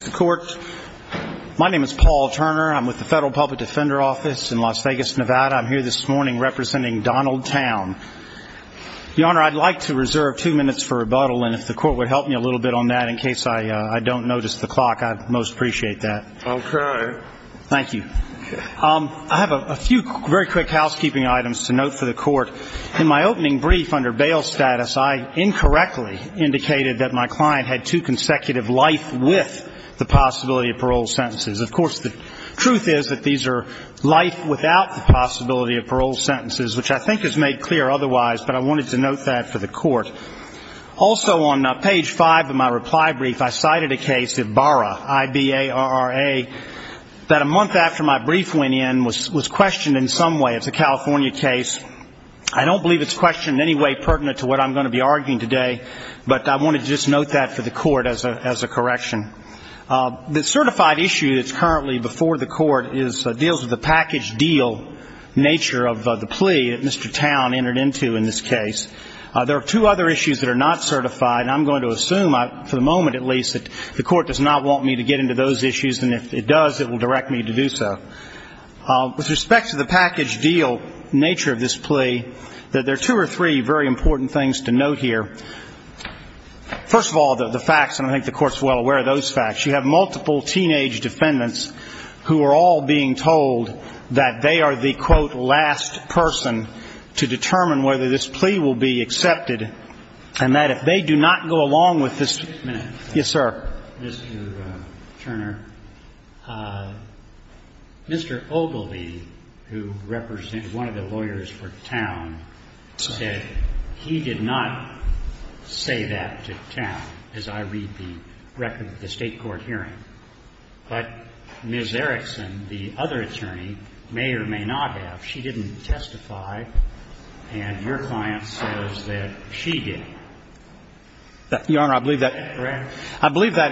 the court. My name is Paul Turner. I'm with the Federal Public Defender Office in Las Vegas, Nevada. I'm here this morning representing Donald Towne. Your Honor, I'd like to reserve two minutes for rebuttal, and if the court would help me a little bit on that in case I don't notice the clock, I'd most appreciate that. Okay. Thank you. I have a few very quick housekeeping items to note for the court. In my opening brief under bail status, I incorrectly indicated that my client had two consecutive life with the possibility of parole sentences. Of course, the truth is that these are life without the possibility of parole sentences, which I think is made clear otherwise, but I wanted to note that for the court. Also on page five of my reply brief, I cited a case, Ibarra, I-B-A-R-R-A, that a month after my brief went in was questioned in some way. It's a California case. I don't believe it's questioned in any way pertinent to what I'm going to be the court as a correction. The certified issue that's currently before the court deals with the package deal nature of the plea that Mr. Towne entered into in this case. There are two other issues that are not certified, and I'm going to assume, for the moment at least, that the court does not want me to get into those issues, and if it does, it will direct me to do so. With respect to the package deal nature of this plea, there are two or three very important things to note here. First of all, the facts, and I think the Court's well aware of those facts. You have multiple teenage defendants who are all being told that they are the, quote, last person to determine whether this plea will be accepted, and that if they do not go along with this ---- Just a minute. Yes, sir. Mr. Turner, Mr. Ogilvie, who represented one of the lawyers for Towne, said he did not say that to Towne, as I read the record of the State court hearing. But Ms. Erickson, the other attorney, may or may not have. She didn't testify, and your client says that she did. Your Honor, I believe that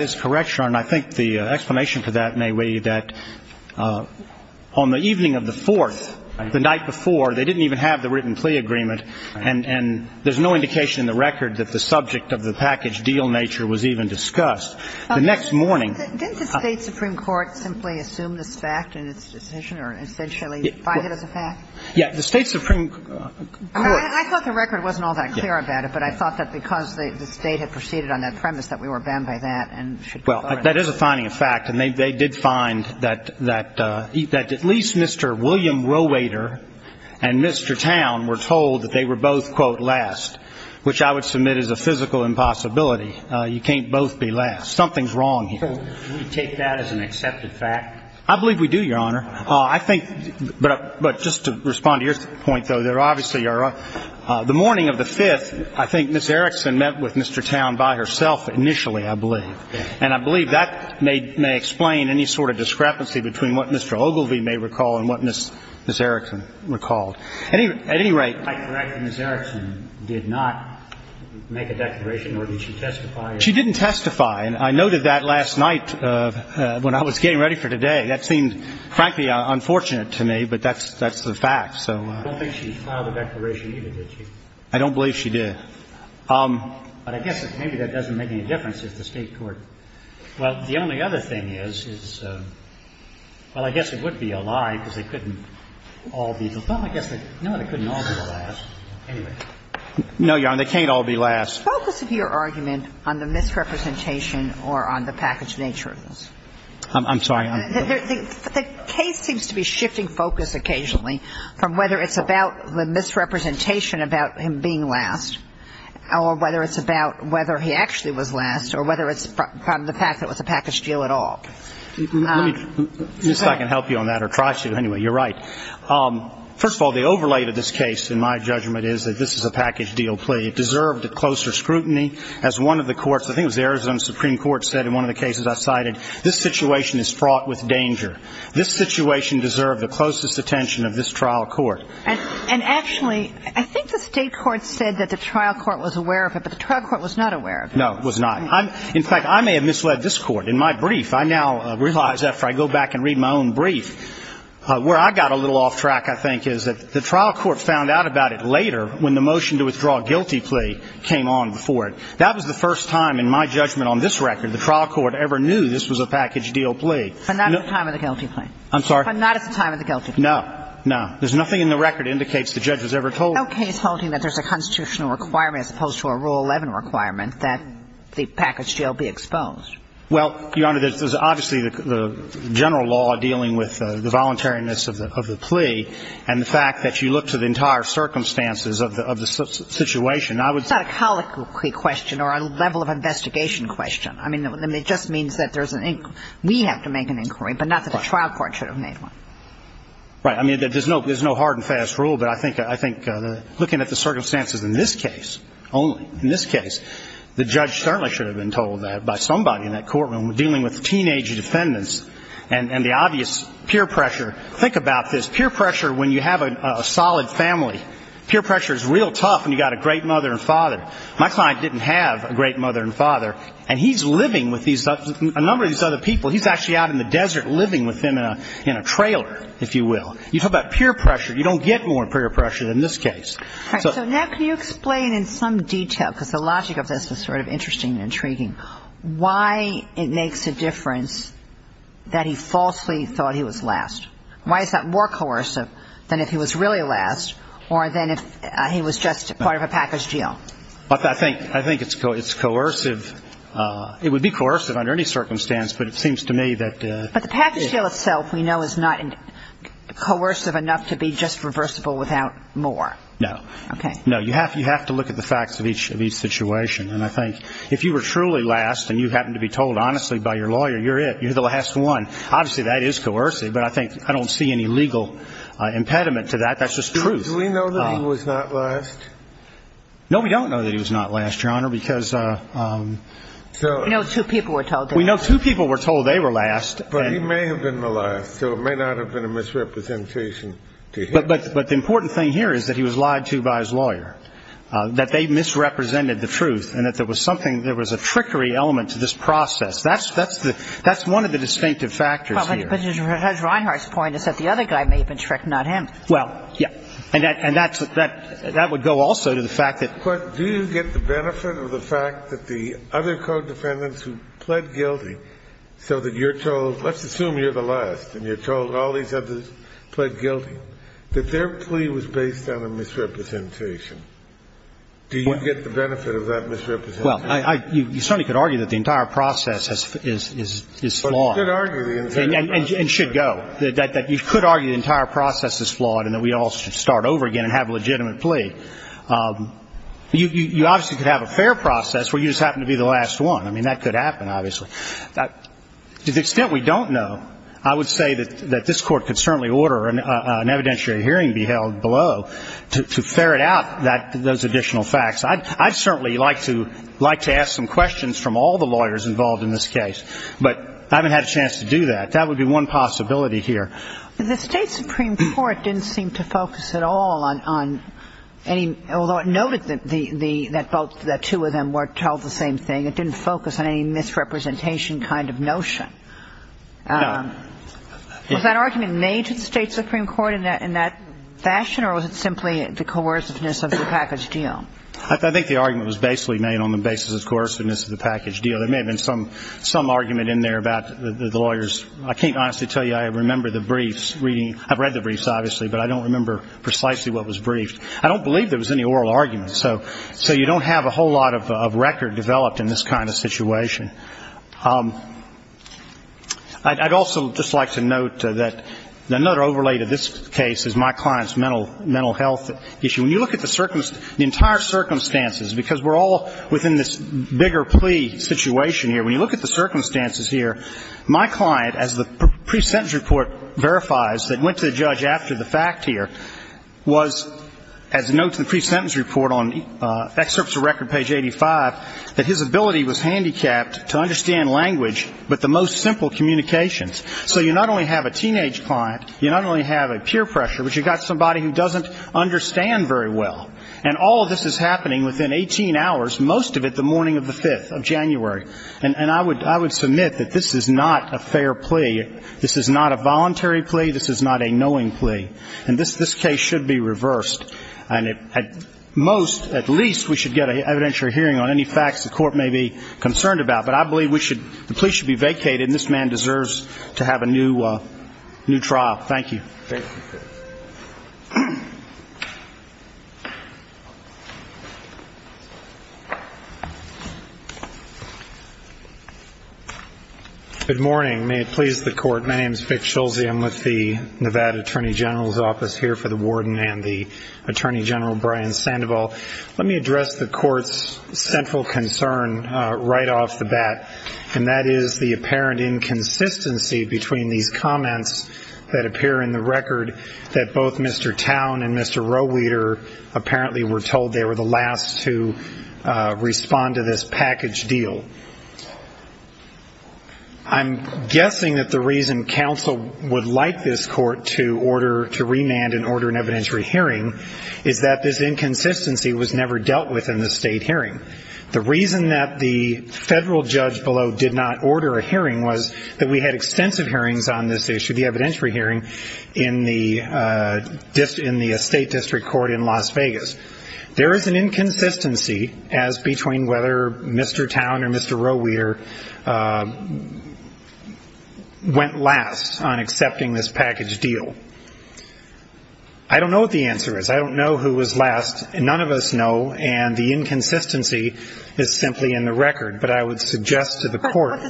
is correct, Your Honor, and I think the explanation to that may be that on the evening of the 4th, the night before, they didn't even have the written plea agreement, and there's no indication in the record that the subject of the package deal nature was even discussed. The next morning ---- Didn't the State supreme court simply assume this fact in its decision, or essentially buy it as a fact? Yes. The State supreme court ---- Because the State had proceeded on that premise that we were banned by that and should ---- Well, that is a finding of fact, and they did find that at least Mr. William Rowater and Mr. Towne were told that they were both, quote, last, which I would submit is a physical impossibility. You can't both be last. Something's wrong here. So we take that as an accepted fact? I believe we do, Your Honor. I think ---- but just to respond to your point, though, obviously, Your Honor, the morning of the 5th, I think Ms. Erickson met with Mr. Towne by herself initially, I believe. And I believe that may explain any sort of discrepancy between what Mr. Ogilvie may recall and what Ms. Erickson recalled. At any rate ---- I correct Ms. Erickson did not make a declaration, or did she testify? She didn't testify. And I noted that last night when I was getting ready for today. That seemed, frankly, unfortunate to me, but that's the fact. So ---- I don't think she filed a declaration either, did she? I don't believe she did. But I guess maybe that doesn't make any difference if the State court ---- well, the only other thing is, is ---- well, I guess it would be a lie, because they couldn't all be the ---- well, I guess they ---- no, they couldn't all be the last. Anyway. No, Your Honor, they can't all be last. The focus of your argument on the misrepresentation or on the package nature of this? I'm sorry. I'm ---- The case seems to be shifting focus occasionally from whether it's about the misrepresentation about him being last, or whether it's about whether he actually was last, or whether it's from the fact that it was a package deal at all. Let me ---- I guess I can help you on that or try to. Anyway, you're right. First of all, the overlay to this case, in my judgment, is that this is a package deal plea. It deserved closer scrutiny. As one of the courts, I think it was the Arizona Supreme Court, said in one of the cases I cited, this situation is fraught with danger. This situation deserved the closest attention of this trial court. And actually, I think the state court said that the trial court was aware of it, but the trial court was not aware of it. No, it was not. In fact, I may have misled this court. In my brief, I now realize after I go back and read my own brief, where I got a little off track, I think, is that the trial court found out about it later when the motion to withdraw a guilty plea came on before it. That was the first time in my judgment on this record the trial court ever knew this was a package deal plea. But not at the time of the guilty plea? I'm sorry? But not at the time of the guilty plea? No. No. There's nothing in the record that indicates the judge was ever told. No case holding that there's a constitutional requirement as opposed to a Rule 11 requirement that the package deal be exposed. Well, Your Honor, there's obviously the general law dealing with the voluntariness of the plea and the fact that you look to the entire circumstances of the situation. It's not a colloquy question or a level of investigation question. I mean, it just means that there's an inquiry. We have to make an inquiry, but not that the trial court should have made one. Right. I mean, there's no hard and fast rule. But I think looking at the circumstances in this case only, in this case, the judge certainly should have been told that by somebody in that courtroom dealing with teenage defendants and the obvious peer pressure. Think about this. Peer pressure when you have a solid family. Peer pressure is real tough when you've got a great mother and father. My client didn't have a great mother and father, and he's living with a number of these other people. He's actually out in the desert living with them in a trailer, if you will. You talk about peer pressure. You don't get more peer pressure than in this case. Right. So now can you explain in some detail, because the logic of this is sort of interesting and intriguing, why it makes a difference that he falsely thought he was really last, or then if he was just part of a package deal? I think it's coercive. It would be coercive under any circumstance, but it seems to me that... But the package deal itself, we know, is not coercive enough to be just reversible without more. No. Okay. No. You have to look at the facts of each situation. And I think if you were truly last and you happened to be told honestly by your lawyer, you're it, you're the last one, obviously that is coercive. But I think I don't see any legal impediment to that. That's just truth. Do we know that he was not last? No, we don't know that he was not last, Your Honor, because... We know two people were told that. We know two people were told they were last. But he may have been the last, so it may not have been a misrepresentation to him. But the important thing here is that he was lied to by his lawyer, that they misrepresented the truth, and that there was something, there was a trickery element to this process. That's one of the distinctive factors here. But Judge Reinhart's point is that the other guy may have been tricked, not him. Well, yes. And that would go also to the fact that... But do you get the benefit of the fact that the other co-defendants who pled guilty so that you're told, let's assume you're the last, and you're told all these others pled guilty, that their plea was based on a misrepresentation? Do you get the benefit of that misrepresentation? Well, you certainly could argue that the entire process is flawed. But you could argue the entire process... And should go. You could argue the entire process is flawed and that we all should start over again and have a legitimate plea. You obviously could have a fair process where you just happen to be the last one. I mean, that could happen, obviously. To the extent we don't know, I would say that this Court could certainly order an evidentiary hearing be held below to ferret out those additional facts. I'd certainly like to ask some questions from all the lawyers involved in this case. But I haven't had a chance to do that. That would be one possibility here. But the State Supreme Court didn't seem to focus at all on any... Although it noted that two of them were told the same thing, it didn't focus on any misrepresentation kind of notion. No. Was that argument made to the State Supreme Court in that fashion, or was it simply the coerciveness of the package deal? I think the argument was basically made on the basis of coerciveness of the package deal. There was some argument in there about the lawyers. I can't honestly tell you I remember the briefs reading. I've read the briefs, obviously, but I don't remember precisely what was briefed. I don't believe there was any oral argument. So you don't have a whole lot of record developed in this kind of situation. I'd also just like to note that another overlay to this case is my client's mental health issue. When you look at the entire circumstances, because we're all within this bigger plea situation here, when you look at the circumstances here, my client, as the pre-sentence report verifies that went to the judge after the fact here, was, as noted in the pre-sentence report on excerpts of record page 85, that his ability was handicapped to understand language, but the most simple communications. So you not only have a teenage client, you not only have a peer pressure, but you've got somebody who doesn't understand very well. And all of this is happening within 18 hours, most of it the morning of the 5th of January. And I would submit that this is not a fair plea. This is not a voluntary plea. This is not a knowing plea. And this case should be reversed. And at most, at least, we should get an evidentiary hearing on any facts the court may be concerned about. But I believe the plea should be vacated, and this man deserves to have a new trial. Thank you. Thank you, Chris. Good morning. May it please the Court. My name is Vic Schulze. I'm with the Nevada Attorney General's Office here for the Warden and the Attorney General Brian Sandoval. Let me address the Court's central concern right off the bat, and that is the apparent inconsistency between these comments that appear in the record that both Mr. Towne and Mr. Roweeder apparently were told they were the last to respond to this package deal. I'm guessing that the reason counsel would like this Court to order, to remand and order an evidentiary hearing is that this inconsistency was never dealt with in the state hearing. The reason that the federal judge below did not order a hearing was that we had extensive hearings on this issue, the evidentiary hearing, in the estate district court in Las Vegas. There is an inconsistency as between whether Mr. Towne or Mr. Roweeder went last on accepting this package deal. I don't know what the answer is. I don't know who was last. None of us know, and the inconsistency is simply in the record. But I would suggest to the Court...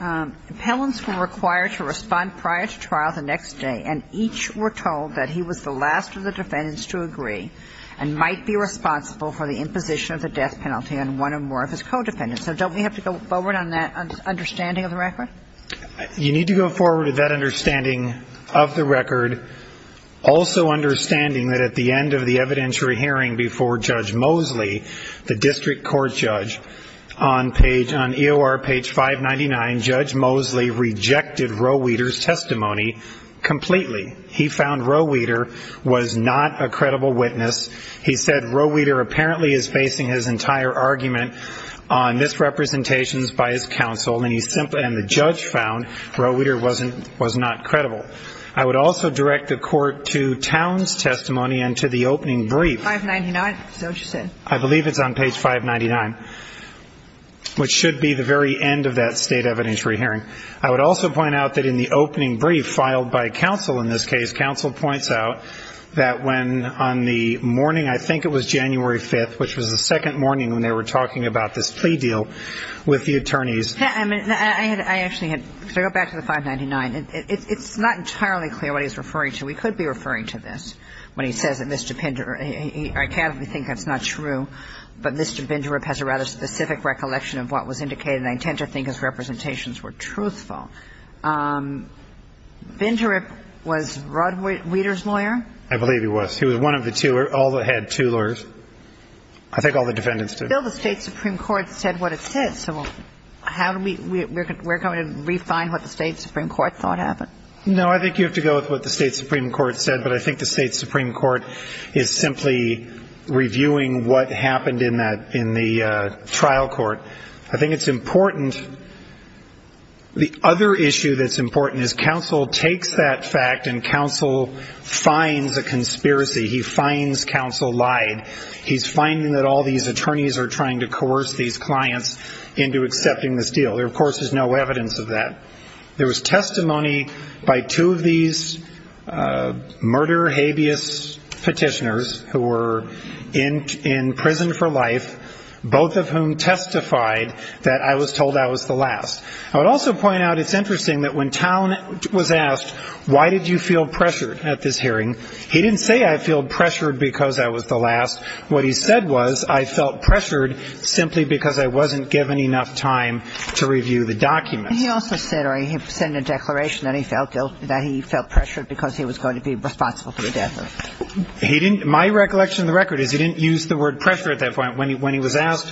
Impellants were required to respond prior to trial the next day, and each were told that he was the last of the defendants to agree and might be responsible for the imposition of the death penalty on one or more of his co-defendants. So don't we have to go forward on that understanding of the record? You need to go forward with that understanding of the record, also understanding that at the end of the evidentiary hearing before Judge Mosley, the district court judge, on EOR page 599, Judge Mosley rejected Roweeder's testimony completely. He found Roweeder was not a credible witness. He said Roweeder apparently is basing his entire argument on this representation by his counsel, and the judge found Roweeder was not credible. I would also direct the Court to Towne's testimony and to the opening brief. 599, is that what you said? I believe it's on page 599, which should be the very end of that state evidentiary hearing. I would also point out that in the opening brief filed by counsel in this case, counsel points out that when on the morning, I think it was January 5th, which was the second morning when they were talking about this plea deal with the attorneys... I actually had to go back to the 599. It's not entirely clear what he's referring to. We could be referring to this when he says that Mr. Pender, I can't really think that's not true, but Mr. Pender has a rather specific recollection of what was indicated, and I intend to think his representations were truthful. Pender was Roweeder's lawyer? I believe he was. He was one of the two, all that had two lawyers. I think all the defendants did. Still, the State Supreme Court said what it said, so how do we, we're going to refine what the State Supreme Court thought happened? No, I think you have to go with what the State Supreme Court said, but I think the what happened in the trial court. I think it's important, the other issue that's important is counsel takes that fact and counsel finds a conspiracy. He finds counsel lied. He's finding that all these attorneys are trying to coerce these clients into accepting this deal. There, of course, is no evidence of that. There was testimony by two of these murder-habeas petitioners who were in prison for life, both of whom testified that I was told I was the last. I would also point out, it's interesting that when Towne was asked, why did you feel pressured at this hearing, he didn't say I feel pressured because I was the last. What he said was, I felt pressured simply because I wasn't given enough time to review the documents. And he also said, or he sent a declaration that he felt guilt, that he felt that he wasn't going to be responsible for the death of the client. He didn't, my recollection of the record is he didn't use the word pressure at that point. When he was asked,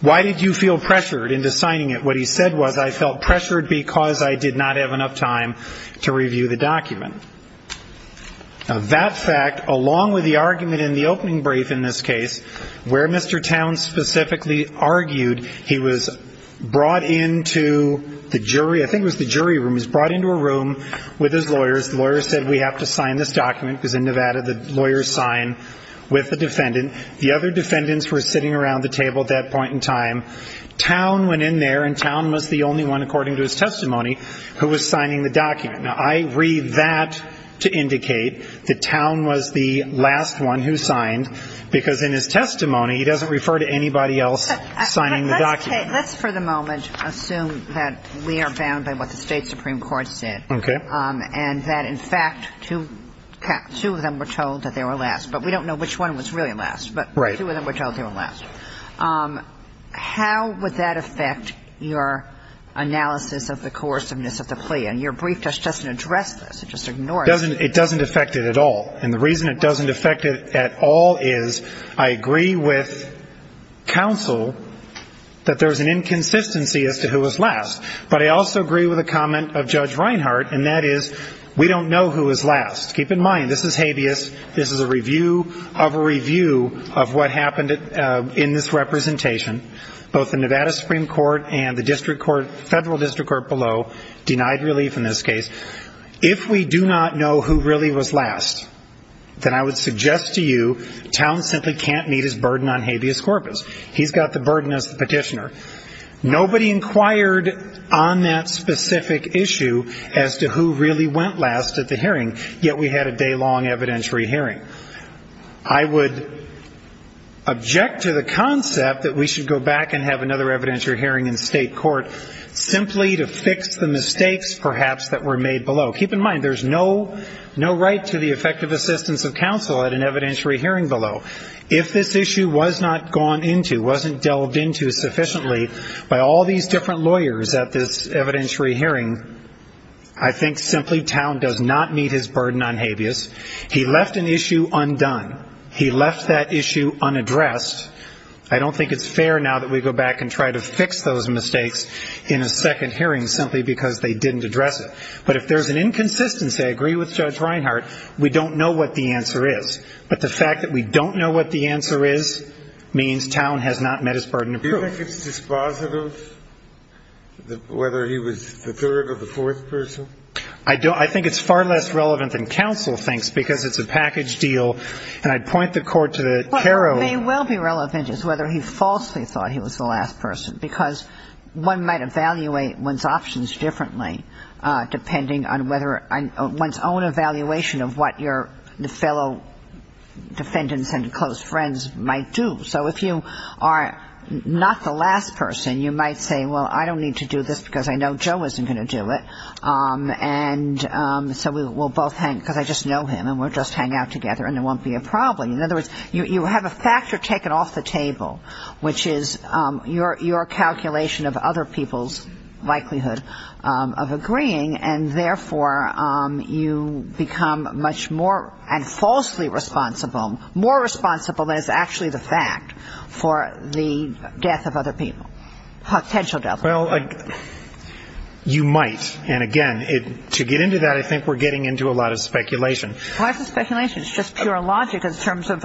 why did you feel pressured in deciding it, what he said was, I felt pressured because I did not have enough time to review the document. Now, that fact, along with the argument in the opening brief, in this case, where Mr. Towne specifically argued, he was brought into the jury, I think it was the other defendants were sitting around the table at that point in time. Towne went in there and Towne was the only one, according to his testimony, who was signing the document. Now, I read that to indicate that Towne was the last one who signed because in his testimony, he doesn't refer to anybody else signing the document. Let's, for the moment, assume that we are bound by what the State Supreme Court said and that, in fact, two of them were told that they were last. But we don't know which one was really last, but two of them were told they were last. How would that affect your analysis of the coerciveness of the plea? And your brief just doesn't address this. It just ignores it. It doesn't affect it at all. And the reason it doesn't affect it at all is I agree with counsel that there's an inconsistency as to who was last. But I also agree with a comment of Judge Reinhart, and that is we don't know who was last. Keep in mind, this is habeas. This is a review of a review of what happened in this representation. Both the Nevada Supreme Court and the district court, federal district court below, denied relief in this case. If we do not know who really was last, then I would suggest to you Towne simply can't meet his burden on habeas corpus. He's got the burden as the petitioner. Nobody inquired on that specific issue as to who really went last at the hearing, yet we had a day-long evidentiary hearing. I would object to the concept that we should go back and have another evidentiary hearing in state court simply to fix the mistakes perhaps that were made below. Keep in mind, there's no right to the effective assistance of counsel at an evidentiary hearing below. If this issue was not gone into, wasn't delved into sufficiently by all these different lawyers at this evidentiary hearing, I think simply Towne does not meet his burden on habeas. He left an issue undone. He left that issue unaddressed. I don't think it's fair now that we go back and try to fix those mistakes in a second hearing simply because they didn't address it. But if there's an inconsistency, I agree with Judge Reinhart, we don't know what the answer is. But the fact that we don't know what the answer is means Towne has not met his burden of proof. Do you think it's dispositive, whether he was the third or the fourth person? I don't. I think it's far less relevant than counsel thinks because it's a package deal. And I'd point the Court to the caroling. What may well be relevant is whether he falsely thought he was the last person, because one might evaluate one's options differently depending on whether one's own evaluation of what your fellow defendants and close friends might do. So if you are not the last person, you might say, well, I don't need to do this because I know Joe isn't going to do it. And so we'll both hang, because I just know him and we'll just hang out together and it won't be a problem. In other words, you have a factor taken off the table, which is your calculation of other people's likelihood of agreeing. And therefore, you become much more and falsely responsible, more responsible than is actually the fact, for the death of other people. Potential death. Well, you might. And again, to get into that, I think we're getting into a lot of speculation. A lot of speculation. It's just pure logic in terms of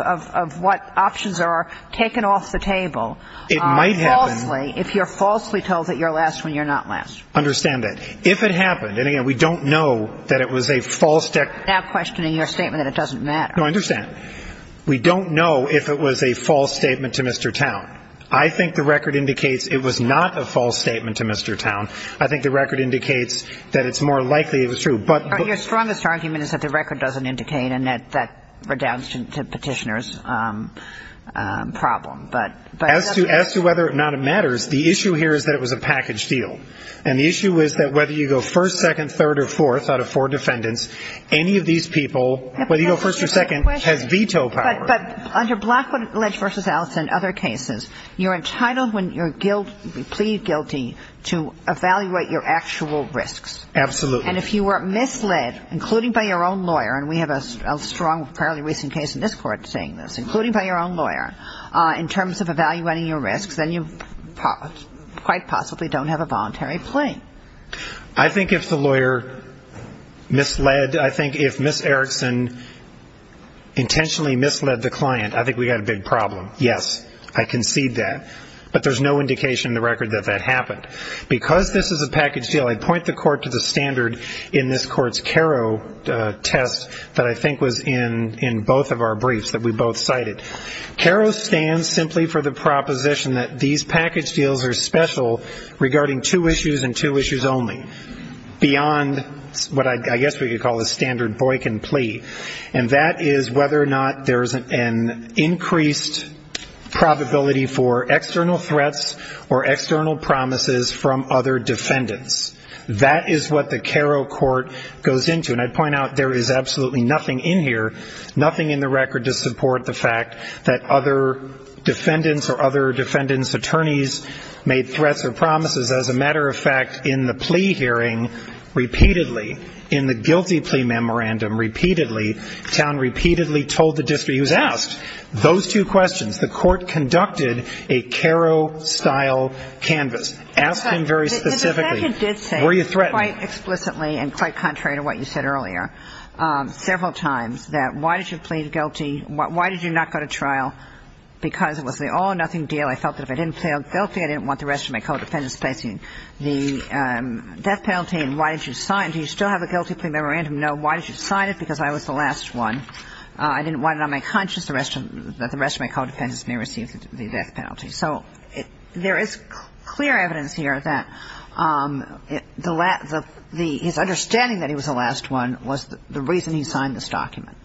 what options are taken off the table. It might happen. Falsely, if you're falsely told that you're last when you're not last. Understand that. If it happened, and again, we don't know that it was a false declaration. I'm now questioning your statement that it doesn't matter. No, I understand. We don't know if it was a false statement to Mr. Towne. I think the record indicates it was not a false statement to Mr. Towne. I think the record indicates that it's more likely it was true, but Your strongest argument is that the record doesn't indicate and that that redounds to Petitioner's problem, but As to whether or not it matters, the issue here is that it was a package deal. And the issue is that whether you go first, second, third, or fourth out of four defendants, any of these people, whether you go first or second, has veto power. But under Blackwood Alleged v. Allison and other cases, you're entitled, when you plead guilty, to evaluate your actual risks. Absolutely. And if you were misled, including by your own lawyer, and we have a strong, fairly recent case in this court saying this, including by your own lawyer, in terms of evaluating your risks, then you quite possibly don't have a voluntary plea. I think if the lawyer misled, I think if Ms. Erickson intentionally misled the client, I think we've got a big problem. Yes, I concede that. But there's no indication in the record that that happened. Because this is a package deal, I point the court to the standard in this court's CARO test that I think was in both of our briefs that we both cited. CARO stands simply for the proposition that these package deals are special regarding two issues and two issues only, beyond what I guess we could call a standard Boykin plea. And that is whether or not there's an increased probability for external threats or external promises from other defendants. That is what the CARO court goes into. And I point out there is absolutely nothing in here, nothing in the record to support the fact that other defendants or other defendants' attorneys made threats or promises. As a matter of fact, in the plea hearing, repeatedly, in the guilty plea memorandum, repeatedly, Towne repeatedly told the district, he was asked those two questions. The court conducted a CARO-style canvas, asked him very specifically, were you threatened? The defendant did say, quite explicitly and quite contrary to what you said earlier, several times, that why did you plead guilty? Why did you not go to trial? Because it was the all or nothing deal. I felt that if I didn't plead guilty, I didn't want the rest of my co-defendants facing the death penalty. And why did you sign? Do you still have a guilty plea memorandum? No. Why did you sign it? Because I was the last one. I didn't want it on my conscience that the rest of my co-defendants may receive the death penalty. So there is clear evidence here that the last the his understanding that he was the last one was the reason he signed this document.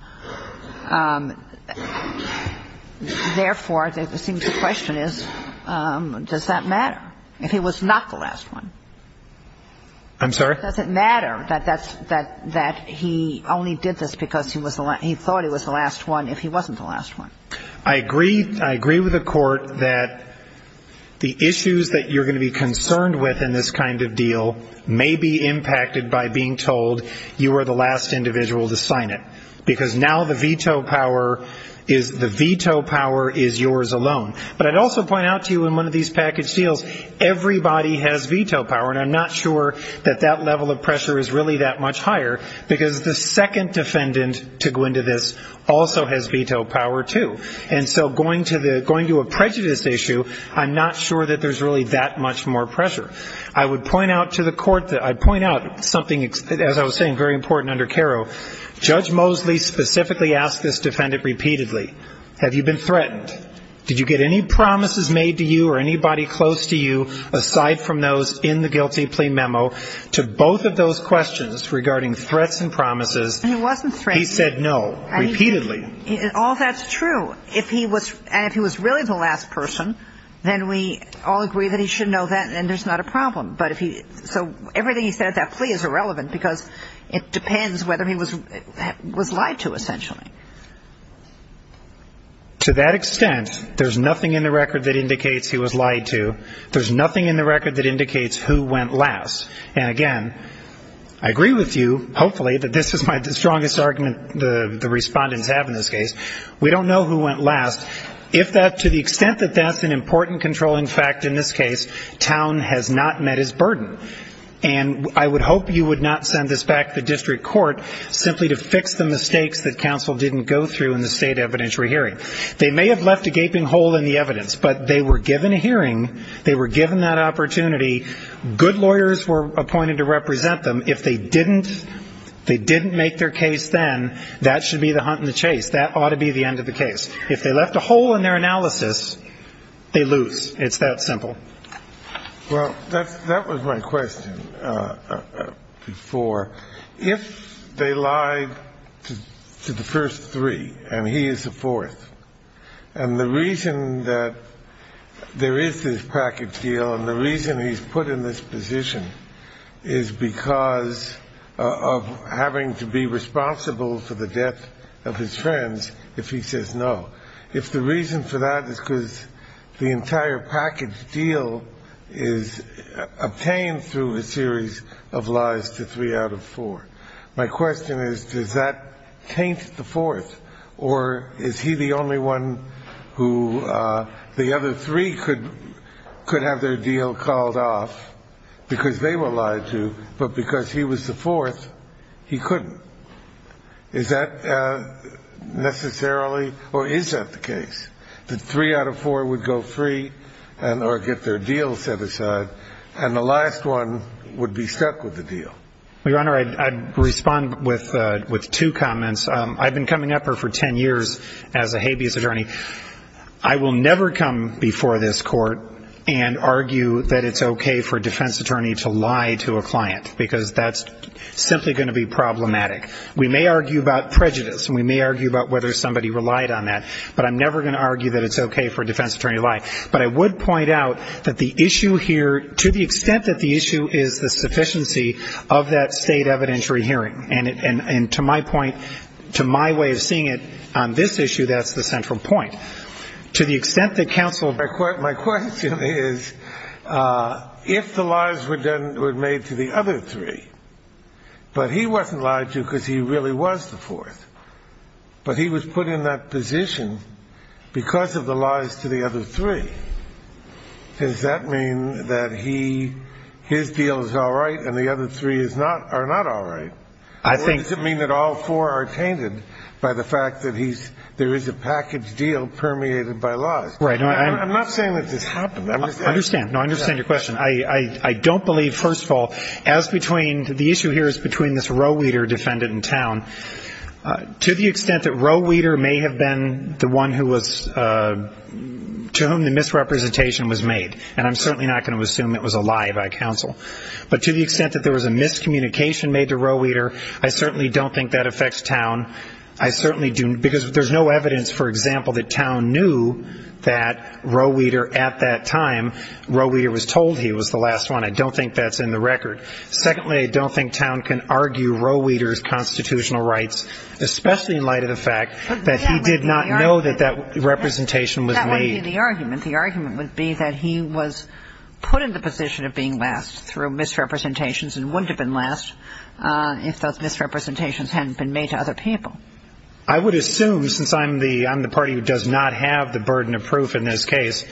Therefore, it seems the question is, does that matter? If he was not the last one? I'm sorry? Does it matter that that's, that he only did this because he was the last, he thought he was the last one if he wasn't the last one? I agree, I agree with the court that the issues that you're going to be concerned with in this kind of deal may be impacted by being told you were the last individual to sign it. Because now the veto power is, the veto power is yours alone. But I'd also point out to you in one of these package deals, everybody has veto power. And I'm not sure that that level of pressure is really that much higher. Because the second defendant to go into this also has veto power too. And so going to the, going to a prejudice issue, I'm not sure that there's really that much more pressure. I would point out to the court, I'd point out something, as I was saying, very important under Caro, Judge Mosley specifically asked this defendant repeatedly, have you been threatened? Did you get any promises made to you or anybody close to you, aside from those in the guilty plea memo, to both of those questions regarding threats and promises? He wasn't threatened. He said no, repeatedly. All that's true. If he was, and if he was really the last person, then we all agree that he should know that, and there's not a problem. But if he, so everything he said at that plea is irrelevant, because it depends whether he was, was lied to, essentially. To that extent, there's nothing in the record that indicates he was lied to. There's nothing in the record that indicates who went last. And again, I agree with you, hopefully, that this is my strongest argument the respondents have in this case. We don't know who went last. If that, to the extent that that's an important controlling fact in this case, town has not met its burden. And I would hope you would not send this back to the district court simply to fix the mistakes that counsel didn't go through in the state evidentiary hearing. They may have left a gaping hole in the evidence, but they were given a hearing, they were given that opportunity, good lawyers were appointed to represent them. If they didn't, they didn't make their case then, that should be the hunt and the chase. That ought to be the end of the case. If they left a hole in their analysis, they lose. It's that simple. Well, that's, that was my question before. If they lied to, to the first three, and he is the fourth, and the reason that there is this package deal and the reason he's put in this position is because of having to be responsible for the death of his friends, if he says no, if the reason for that is because the entire package deal is obtained through a series of lies to three out of four, my question is, does that taint the fourth? Or is he the only one who the other three could, could have their deal called off because they were lied to, but because he was the fourth, he couldn't. Is that necessarily, or is that the case? That three out of four would go free and, or get their deal set aside, and the last one would be stuck with the deal? Your Honor, I'd respond with, with two comments. I've been coming up here for ten years as a habeas attorney. I will never come before this court and argue that it's okay for a defense attorney to lie to a client, because that's simply going to be problematic. We may argue about prejudice, and we may argue about whether somebody relied on that, but I'm never going to argue that it's okay for a defense attorney to lie. But I would point out that the issue here, to the extent that the issue is the sufficiency of that state evidentiary hearing, and to my point, to my way of seeing it, on this issue, that's the central point. To the extent that counsel... My question is, if the lies were done, were made to the other three, but he wasn't lied to because he really was the fourth, but he was put in that position because of the lies to the other three, does that mean that he, his deal is all right, and the other three is not, are not all right? I think... Does it mean that all four are tainted by the fact that he's, there is a package deal permeated by lies? Right. I'm not saying that this happened. I understand. No, I understand your question. I don't believe, first of all, as between, the issue here is between this Roweeter defendant in town, to the extent that Roweeter may have been the one who was, to whom the misrepresentation was made, and I'm certainly not going to assume it was a lie by counsel, but to the extent that there was a miscommunication made to Roweeter, I certainly don't think that affects town. I certainly do, because there's no evidence, for example, that town knew that Roweeter at that time, Roweeter was told he was the last one. I don't think that's in the record. Secondly, I don't think town can argue Roweeter's constitutional rights, especially in light of the fact that he did not know that that representation was made. The argument, the argument would be that he was put in the position of being last through misrepresentations and wouldn't have been last if those misrepresentations hadn't been made to other people. I would assume, since I'm the, I'm the party who does not have the burden of proof in this case,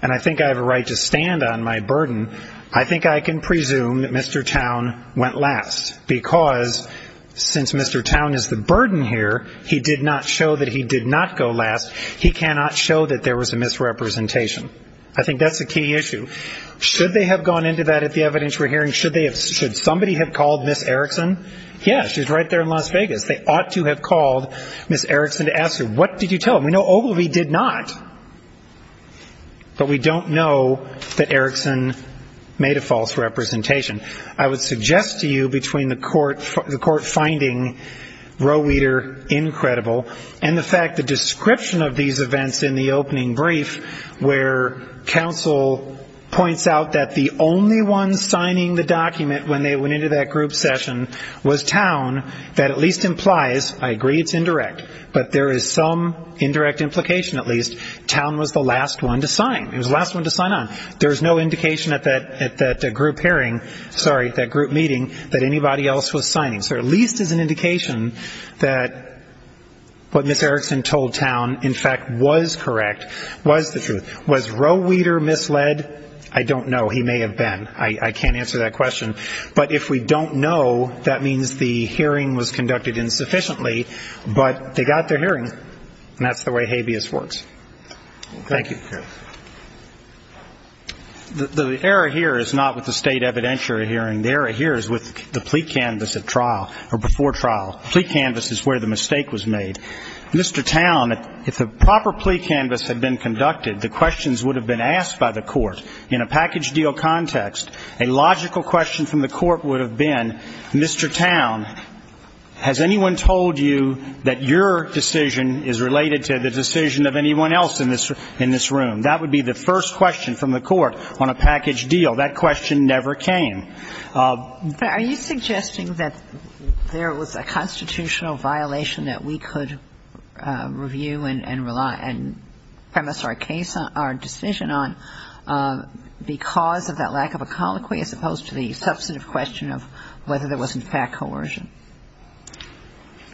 and I think I have a right to stand on my burden, I think I can presume that Mr. Town went last, because since Mr. Town is the burden here, he did not show that he did not go last. He cannot show that there was a misrepresentation. I think that's a key issue. Should they have gone into that at the evidence we're hearing? Should they have, should somebody have called Ms. Erickson? Yeah, she's right there in Las Vegas. They ought to have called Ms. Erickson to ask her, what did you tell him? We know Ogilvie did not, but we don't know that Erickson made a false representation. I would suggest to you between the court, the court finding Roweeter incredible, and the fact the description of these events in the opening brief, where counsel points out that the only one signing the document when they went into that group session was Town, that at least implies, I agree it's indirect, but there is some indirect implication at least, Town was the last one to sign. He was the last one to sign on. There is no indication at that group hearing, sorry, that group meeting, that anybody else was signing. So at least it's an indication that what Ms. Erickson told Town, in fact, was correct, was the truth. Was Roweeter misled? I don't know. He may have been. I can't answer that question. But if we don't know, that means the hearing was conducted insufficiently, but they got their hearing, and that's the way habeas works. Thank you. The error here is not with the state evidentiary hearing. The error here is with the plea canvass at trial, or before trial. Plea canvass is where the mistake was made. Mr. Town, if the proper plea canvass had been conducted, the questions would have been asked by the court in a package deal context. A logical question from the court would have been, Mr. Town, has anyone told you that your decision is related to the decision of anyone else in this room? That would be the first question from the court on a package deal. That question never came. Are you suggesting that there was a constitutional violation that we could review and premise our decision on because of that lack of a colloquy as opposed to the substantive question of whether there was, in fact, coercion?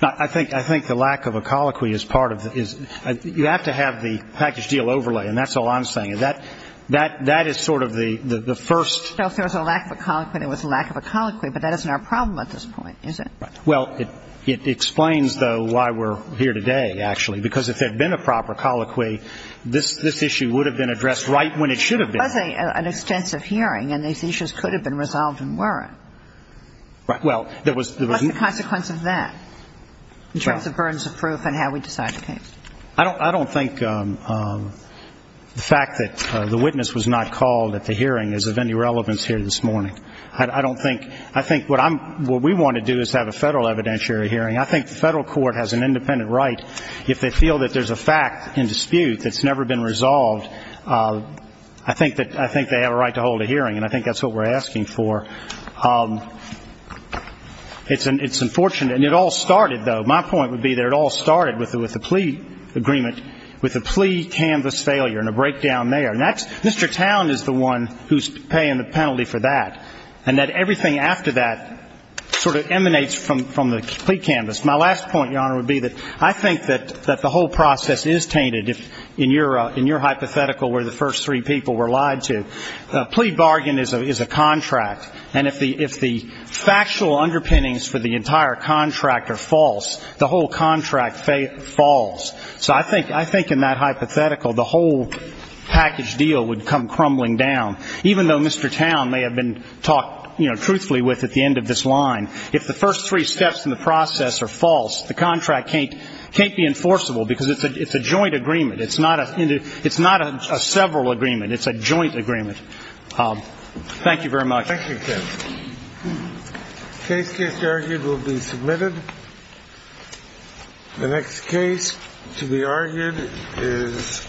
I think the lack of a colloquy is part of the you have to have the package deal overlay, and that's all I'm saying. That is sort of the first So if there was a lack of a colloquy, there was a lack of a colloquy, but that isn't our problem at this point, is it? Well, it explains, though, why we're here today, actually, because if there had been a proper colloquy, this issue would have been addressed right when it should have been. It was an extensive hearing, and these issues could have been resolved and weren't. Right. Well, there was What's the consequence of that in terms of burdens of proof and how we decide the case? I don't think the fact that the witness was not called at the hearing is of any relevance here this morning. I don't think I think what I'm what we want to do is have a federal evidentiary hearing. I think the federal court has an independent right. If they feel that there's a fact in dispute that's never been resolved, I think that I think they have a right to hold a hearing, and I think that's what we're asking for. It's unfortunate, and it all started, though. My point would be that it all started with the plea agreement, with a plea canvas failure and a breakdown there, and that's Mr. Towne is the one who's paying the penalty for that, and that everything after that sort of emanates from the plea canvas. My last point, Your Honor, would be that I think that the whole process is tainted in your hypothetical where the first three people were lied to. A plea bargain is a contract, and if the factual underpinnings for the entire contract are false, the whole contract falls. So I think in that hypothetical, the whole package deal would come crumbling down, even though Mr. Towne may have been talked, you know, truthfully with at the end of this line. If the first three steps in the process are false, the contract can't be enforceable, because it's a joint agreement. It's not a several agreement. It's a joint agreement. Thank you very much. Thank you, Kevin. The case just argued will be submitted. The next case to be addressed